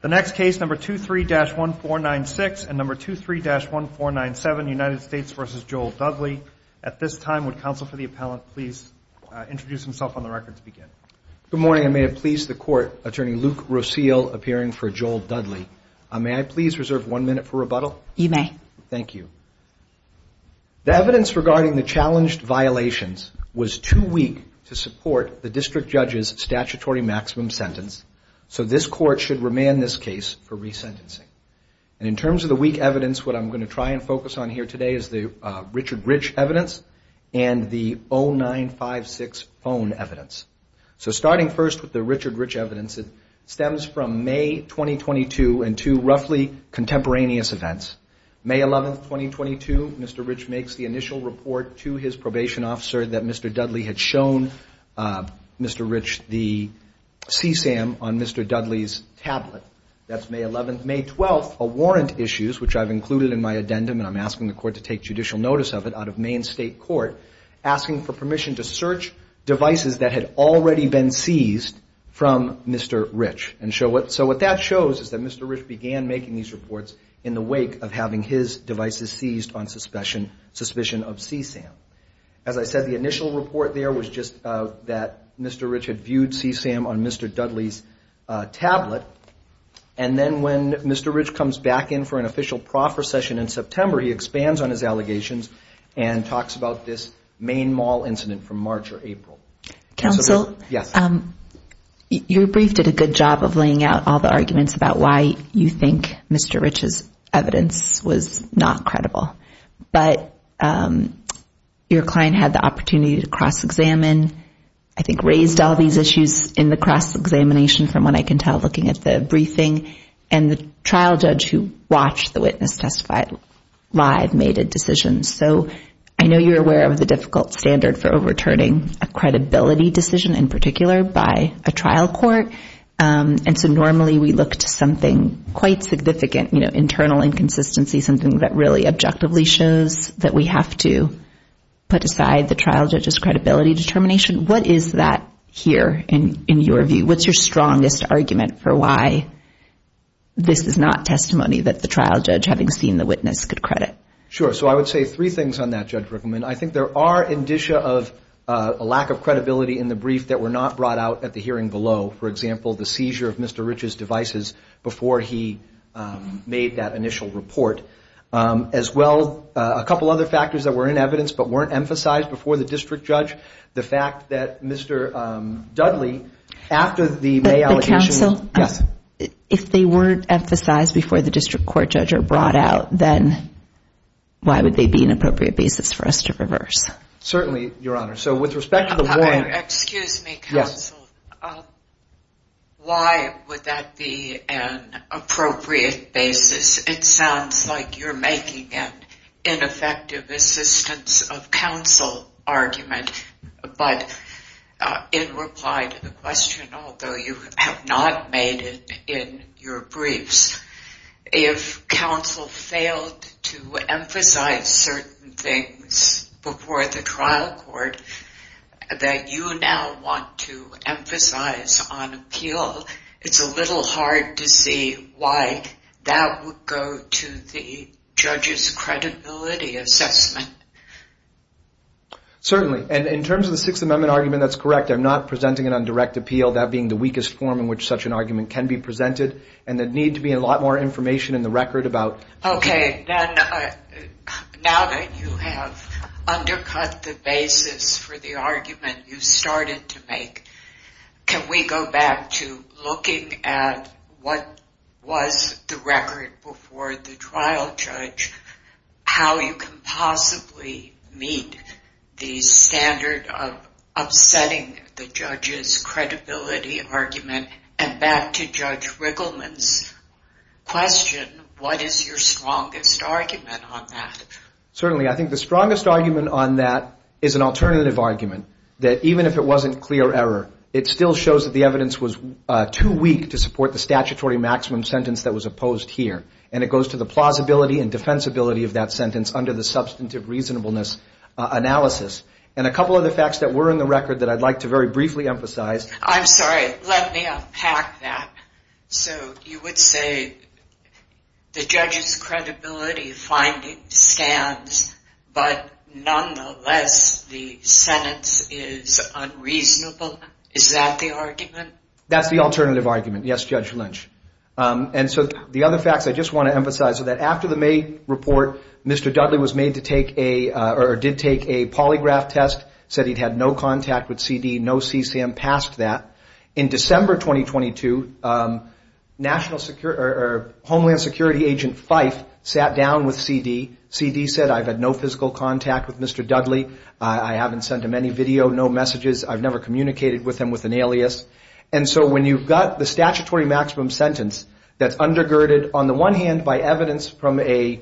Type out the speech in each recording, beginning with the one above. The next case, number 23-1496 and number 23-1497, United States v. Joel Dudley. At this time, would counsel for the appellant please introduce himself on the record to begin? Good morning. I may have pleased the court. Attorney Luke Roesel, appearing for Joel Dudley. May I please reserve one minute for rebuttal? You may. Thank you. The evidence regarding the challenged violations was too weak to support the district judge's statutory maximum sentence. So this court should remand this case for resentencing. In terms of the weak evidence, what I'm going to try and focus on here today is the Richard Rich evidence and the 0956 phone evidence. So starting first with the Richard Rich evidence, it stems from May 2022 and two roughly contemporaneous events. May 11, 2022, Mr. Rich makes the initial report to his probation officer that Mr. Dudley had shown Mr. Rich the CSAM on Mr. Dudley's tablet. That's May 11. May 12, a warrant issues, which I've included in my addendum and I'm asking the court to take judicial notice of it out of Maine State Court, asking for permission to search devices that had already been seized from Mr. Rich. So what that shows is that Mr. Rich began making these reports in the wake of having his devices seized on suspicion of CSAM. As I said, the initial report there was just that Mr. Rich had viewed CSAM on Mr. Dudley's tablet. And then when Mr. Rich comes back in for an official proffer session in September, he expands on his allegations and talks about this Maine Mall incident from March or April. Counsel? Yes. Your brief did a good job of laying out all the arguments about why you think Mr. Rich's But your client had the opportunity to cross-examine, I think raised all these issues in the cross-examination from what I can tell looking at the briefing, and the trial judge who watched the witness testify live made a decision. So I know you're aware of the difficult standard for overturning a credibility decision in particular by a trial court. And so normally we look to something quite significant, you know, internal inconsistency, something that really objectively shows that we have to put aside the trial judge's credibility determination. What is that here in your view? What's your strongest argument for why this is not testimony that the trial judge having seen the witness could credit? Sure. So I would say three things on that, Judge Rickleman. I think there are indicia of a lack of credibility in the brief that were not brought out at the hearing below. For example, the seizure of Mr. Rich's devices before he made that initial report. As well, a couple other factors that were in evidence but weren't emphasized before the district judge. The fact that Mr. Dudley, after the May allegation. If they weren't emphasized before the district court judge or brought out, then why would they be an appropriate basis for us to reverse? Certainly, Your Honor. So with respect to the warrant. Excuse me, counsel. Why would that be an appropriate basis? It sounds like you're making an ineffective assistance of counsel argument, but in reply to the question, although you have not made it in your briefs, if counsel failed to emphasize certain things before the trial court that you now want to emphasize on appeal, it's a little hard to see why that would go to the judge's credibility assessment. Certainly, and in terms of the Sixth Amendment argument, that's correct. I'm not presenting it on direct appeal, that being the weakest form in which such an argument can be presented. There needs to be a lot more information in the record about- Okay. Now that you have undercut the basis for the argument you started to make, can we go back to looking at what was the record before the trial judge, how you can possibly meet the standard of upsetting the judge's credibility argument, and back to Judge Riggleman's question, what is your strongest argument on that? Certainly, I think the strongest argument on that is an alternative argument, that even if it wasn't clear error, it still shows that the evidence was too weak to support the statutory maximum sentence that was opposed here, and it goes to the plausibility and defensibility of that sentence under the substantive reasonableness analysis. A couple of the facts that were in the record that I'd like to very briefly emphasize- I'm sorry. Let me unpack that. So you would say the judge's credibility finding stands, but nonetheless, the sentence is unreasonable? Is that the argument? That's the alternative argument, yes, Judge Lynch. And so the other facts I just want to emphasize are that after the May report, Mr. Dudley was made to take a, or did take a polygraph test, said he'd had no contact with CD, no CCM past that. In December 2022, Homeland Security Agent Fife sat down with CD, CD said, I've had no physical contact with Mr. Dudley, I haven't sent him any video, no messages, I've never communicated with him with an alias. And so when you've got the statutory maximum sentence that's undergirded on the one hand by evidence from a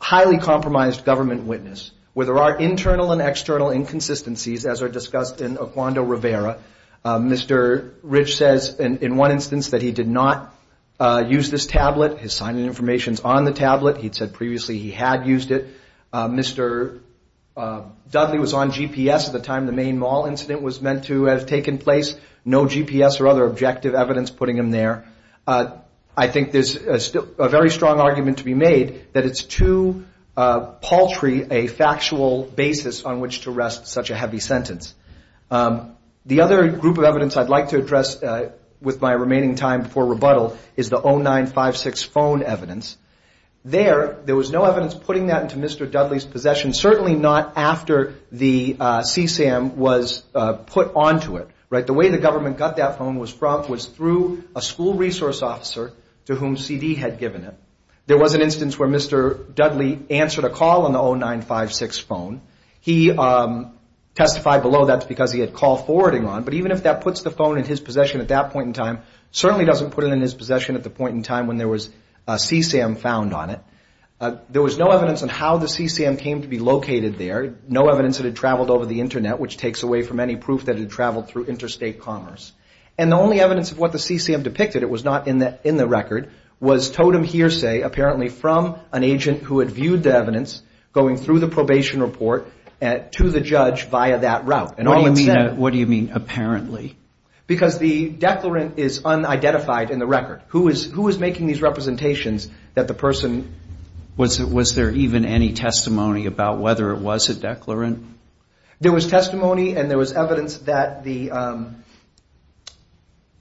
highly compromised government witness, where there are internal and external inconsistencies as are discussed in Oquando Rivera, Mr. Rich says in one instance that he did not use this tablet, his sign-in information's on the tablet, he'd said previously he had used it, Mr. Dudley was on GPS at the time the main mall incident was meant to have taken place, no GPS or other objective evidence putting him there. I think there's a very strong argument to be made that it's too paltry a factual basis on which to rest such a heavy sentence. The other group of evidence I'd like to address with my remaining time before rebuttal is the 0956 phone evidence. There, there was no evidence putting that into Mr. Dudley's possession, certainly not after the CCM was put onto it, right? The way the government got that phone was through a school resource officer to whom CD had given it. There was an instance where Mr. Dudley answered a call on the 0956 phone, he testified below that's because he had call forwarding on, but even if that puts the phone in his possession at that point in time, certainly doesn't put it in his possession at the point in time when there was a CCM found on it. There was no evidence on how the CCM came to be located there, no evidence that it traveled over the internet, which takes away from any proof that it had traveled through interstate commerce. And the only evidence of what the CCM depicted, it was not in the record, was Totem Hearsay apparently from an agent who had viewed the evidence going through the probation report to the judge via that route. And all it said... What do you mean, apparently? Because the declarant is unidentified in the record. Who is making these representations that the person... Was there even any testimony about whether it was a declarant? There was testimony and there was evidence that the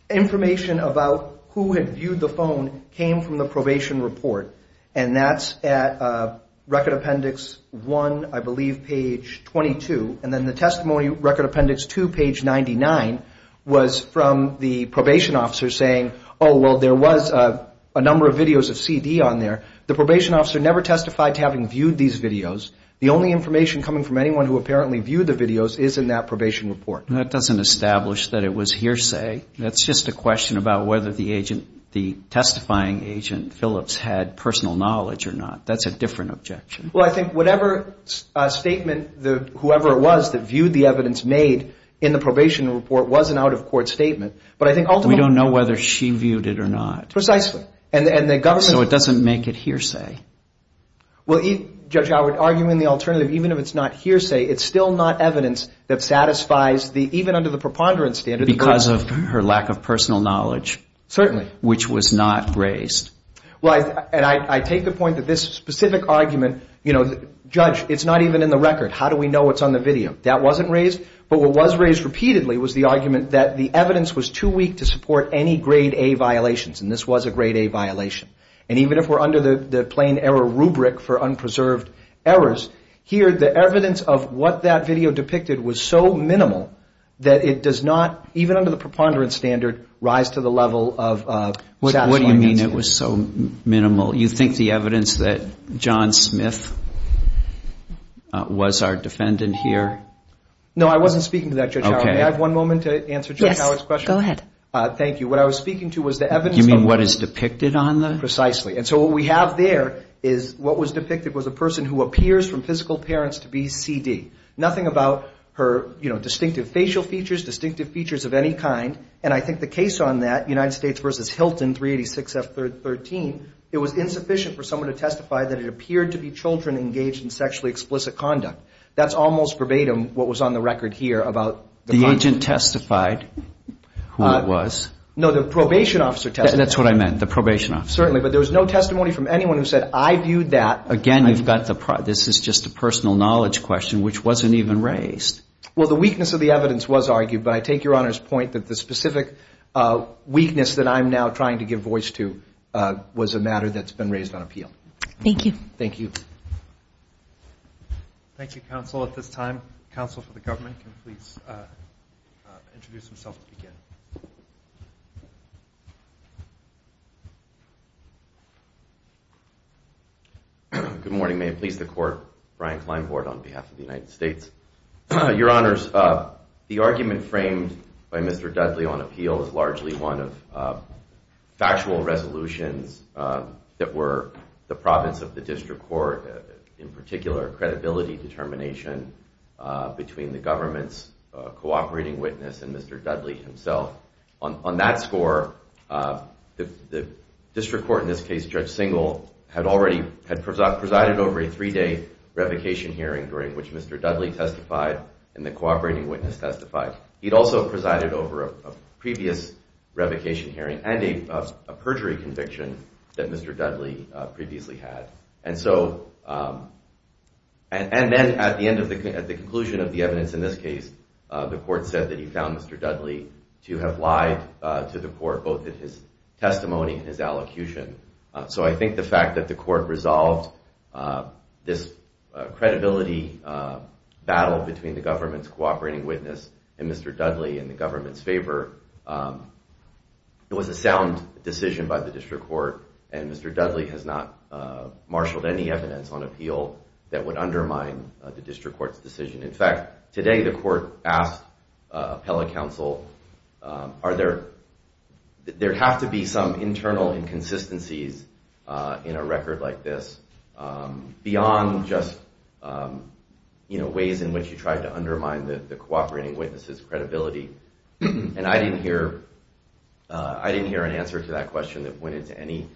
information about who had viewed the phone came from the probation report. And that's at Record Appendix 1, I believe, page 22, and then the testimony Record Appendix 2, page 99, was from the probation officer saying, oh, well, there was a number of videos of CD on there. The probation officer never testified to having viewed these videos. The only information coming from anyone who apparently viewed the videos is in that probation report. That doesn't establish that it was hearsay. That's just a question about whether the agent, the testifying agent, Phillips, had personal knowledge or not. That's a different objection. Well, I think whatever statement, whoever it was that viewed the evidence made in the probation report was an out-of-court statement. But I think ultimately... We don't know whether she viewed it or not. Precisely. And the government... So it doesn't make it hearsay. Well, Judge Howard, arguing the alternative, even if it's not hearsay, it's still not evidence that satisfies the, even under the preponderance standard... Because of her lack of personal knowledge. Certainly. Which was not raised. Well, and I take the point that this specific argument, you know, Judge, it's not even in the record. How do we know it's on the video? That wasn't raised. But what was raised repeatedly was the argument that the evidence was too weak to support any Grade A violations, and this was a Grade A violation. And even if we're under the plain error rubric for unpreserved errors, here the evidence of what that video depicted was so minimal that it does not, even under the preponderance standard, rise to the level of satisfying... What do you mean it was so minimal? You think the evidence that John Smith was our defendant here? No, I wasn't speaking to that, Judge Howard. May I have one moment to answer Judge Howard's question? Yes. Go ahead. Thank you. What I was speaking to was the evidence... You mean what is depicted on the... Precisely. And so what we have there is what was depicted was a person who appears from physical parents to be CD. Nothing about her distinctive facial features, distinctive features of any kind. And I think the case on that, United States v. Hilton, 386F13, it was insufficient for someone to testify that it appeared to be children engaged in sexually explicit conduct. That's almost verbatim what was on the record here about the... The agent testified who it was. No, the probation officer testified. That's what I meant, the probation officer. Certainly. But there was no testimony from anyone who said, I viewed that... Again, you've got the... This is just a personal knowledge question, which wasn't even raised. Well, the weakness of the evidence was argued, but I take Your Honor's point that the specific weakness that I'm now trying to give voice to was a matter that's been raised on appeal. Thank you. Thank you. Thank you, counsel. At this time, counsel for the government can please introduce himself to begin. Good morning. May it please the court, Brian Kleinbord on behalf of the United States. Your Honors, the argument framed by Mr. Dudley on appeal is largely one of factual resolutions that were the province of the district court, in particular credibility determination between the government's cooperating witness and Mr. Dudley himself. On that score, the district court, in this case Judge Singal, had already presided over a three-day revocation hearing during which Mr. Dudley testified and the cooperating witness testified. He'd also presided over a previous revocation hearing and a perjury conviction that Mr. Dudley previously had. And so, and then at the conclusion of the evidence in this case, the court said that he found Mr. Dudley to have lied to the court both in his testimony and his allocution. So I think the fact that the court resolved this credibility battle between the government's cooperating witness and Mr. Dudley in the government's favor, it was a sound decision by the district court and Mr. Dudley has not marshaled any evidence on appeal that would undermine the district court's decision. In fact, today the court asked appellate counsel, are there, there have to be some internal inconsistencies in a record like this beyond just, you know, ways in which you tried to undermine the cooperating witness's credibility. And I didn't hear, I didn't hear an answer to that question that went into any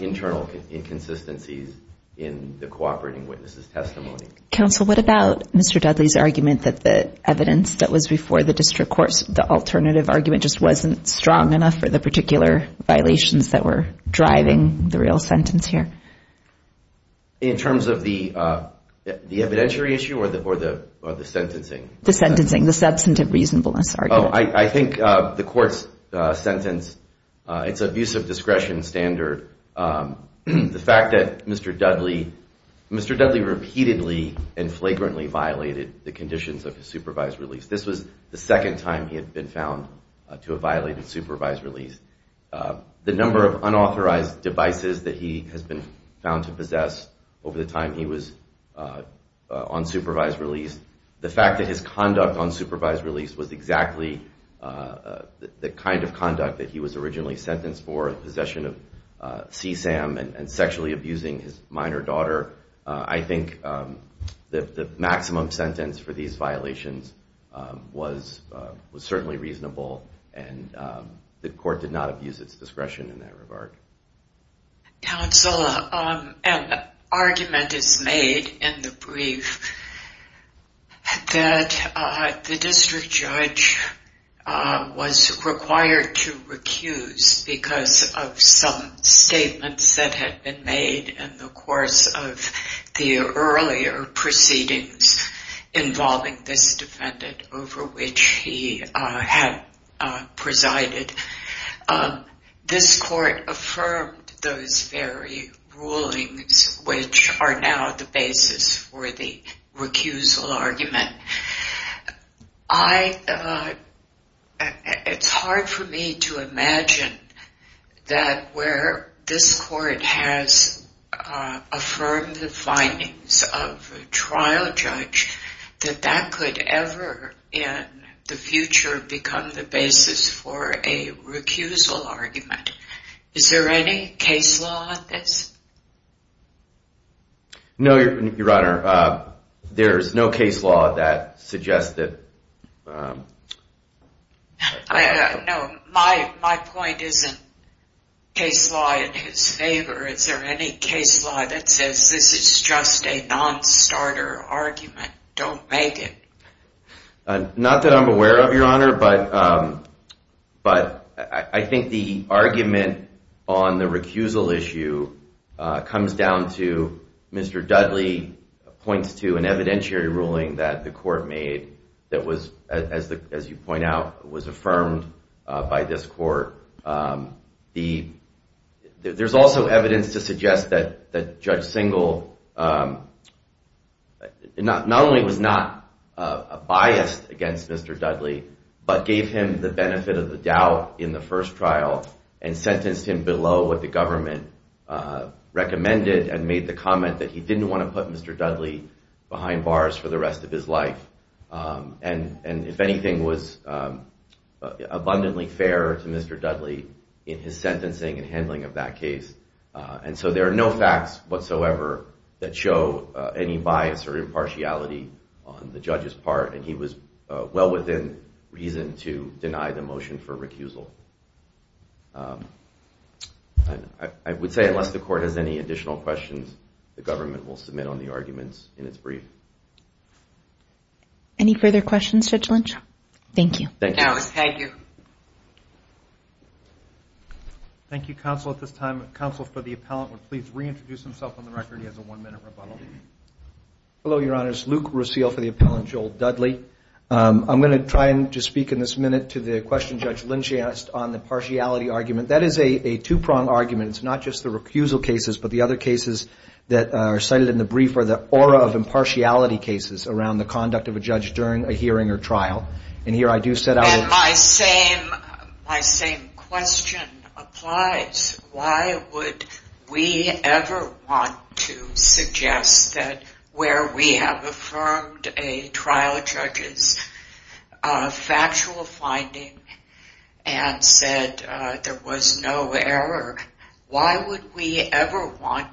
internal inconsistencies in the cooperating witness's testimony. Counsel, what about Mr. Dudley's argument that the evidence that was before the district court, the alternative argument just wasn't strong enough for the particular violations that were driving the real sentence here? In terms of the evidentiary issue or the sentencing? The sentencing, the substantive reasonableness argument. Oh, I think the court's sentence, it's abusive discretion standard. The fact that Mr. Dudley, Mr. Dudley repeatedly and flagrantly violated the conditions of his supervised release. This was the second time he had been found to have violated supervised release. The number of unauthorized devices that he has been found to possess over the time he was on supervised release. The fact that his conduct on supervised release was exactly the kind of conduct that he was originally sentenced for, possession of CSAM and sexually abusing his minor daughter. I think the maximum sentence for these violations was certainly reasonable and the court did not abuse its discretion in that regard. Counsel, an argument is made in the brief that the district judge was required to recuse because of some statements that had been made in the course of the earlier proceedings involving this defendant over which he had presided. This court affirmed those very rulings which are now the basis for the recusal argument. It's hard for me to imagine that where this court has affirmed the findings of a trial is a recusal argument. Is there any case law in this? No, Your Honor. There is no case law that suggests that. No, my point isn't case law in his favor. Is there any case law that says this is just a non-starter argument? Don't make it. Not that I'm aware of, Your Honor, but I think the argument on the recusal issue comes down to Mr. Dudley points to an evidentiary ruling that the court made that was, as you point out, was affirmed by this court. There's also evidence to suggest that Judge Singel not only was not biased against Mr. Dudley, but gave him the benefit of the doubt in the first trial and sentenced him below what the government recommended and made the comment that he didn't want to put Mr. Dudley behind bars for the rest of his life. And if anything, was abundantly fair to Mr. Dudley in his sentencing and handling of that case. And so there are no facts whatsoever that show any bias or impartiality on the judge's part, and he was well within reason to deny the motion for recusal. I would say unless the court has any additional questions, the government will submit on the arguments in its brief. Any further questions, Judge Lynch? Thank you. Thank you. Thank you, counsel. At this time, counsel for the appellant will please reintroduce himself on the record. He has a one-minute rebuttal. Hello, Your Honor. It's Luke Rusile for the appellant, Joel Dudley. I'm going to try and just speak in this minute to the question Judge Lynch asked on the impartiality argument. That is a two-prong argument. It's not just the recusal cases, but the other cases that are cited in the brief are the aura of impartiality cases around the conduct of a judge during a hearing or trial. And here I do set out a – And my same question applies. Why would we ever want to suggest that where we have affirmed a trial judge's factual finding and said there was no error, why would we ever want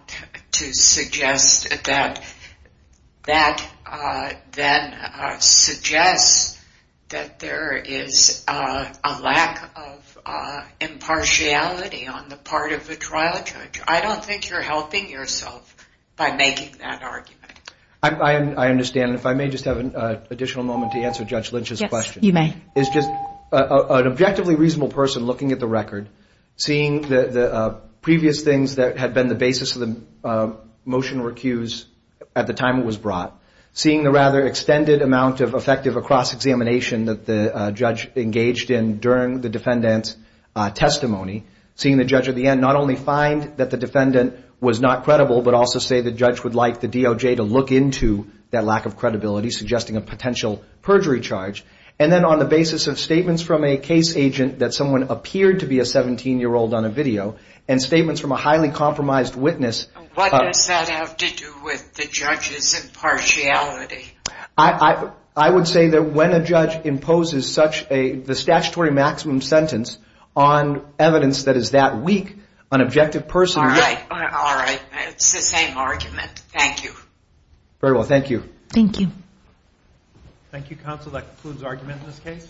to suggest that that then suggests that there is a lack of impartiality on the part of the judge? I don't think you're helping yourself by making that argument. I understand. If I may just have an additional moment to answer Judge Lynch's question. Yes, you may. It's just an objectively reasonable person looking at the record, seeing the previous things that had been the basis of the motion or recuse at the time it was brought, seeing the rather extended amount of effective across-examination that the judge engaged in during the defendant's testimony, seeing the judge at the end not only find that the defendant was not credible, but also say the judge would like the DOJ to look into that lack of credibility, suggesting a potential perjury charge. And then on the basis of statements from a case agent that someone appeared to be a 17-year-old on a video and statements from a highly compromised witness – What does that have to do with the judge's impartiality? I would say that when a judge imposes such a statutory maximum sentence on evidence that is that weak, an objective person – All right. All right. It's the same argument. Thank you. Very well. Thank you. Thank you. Thank you, counsel. That concludes argument in this case.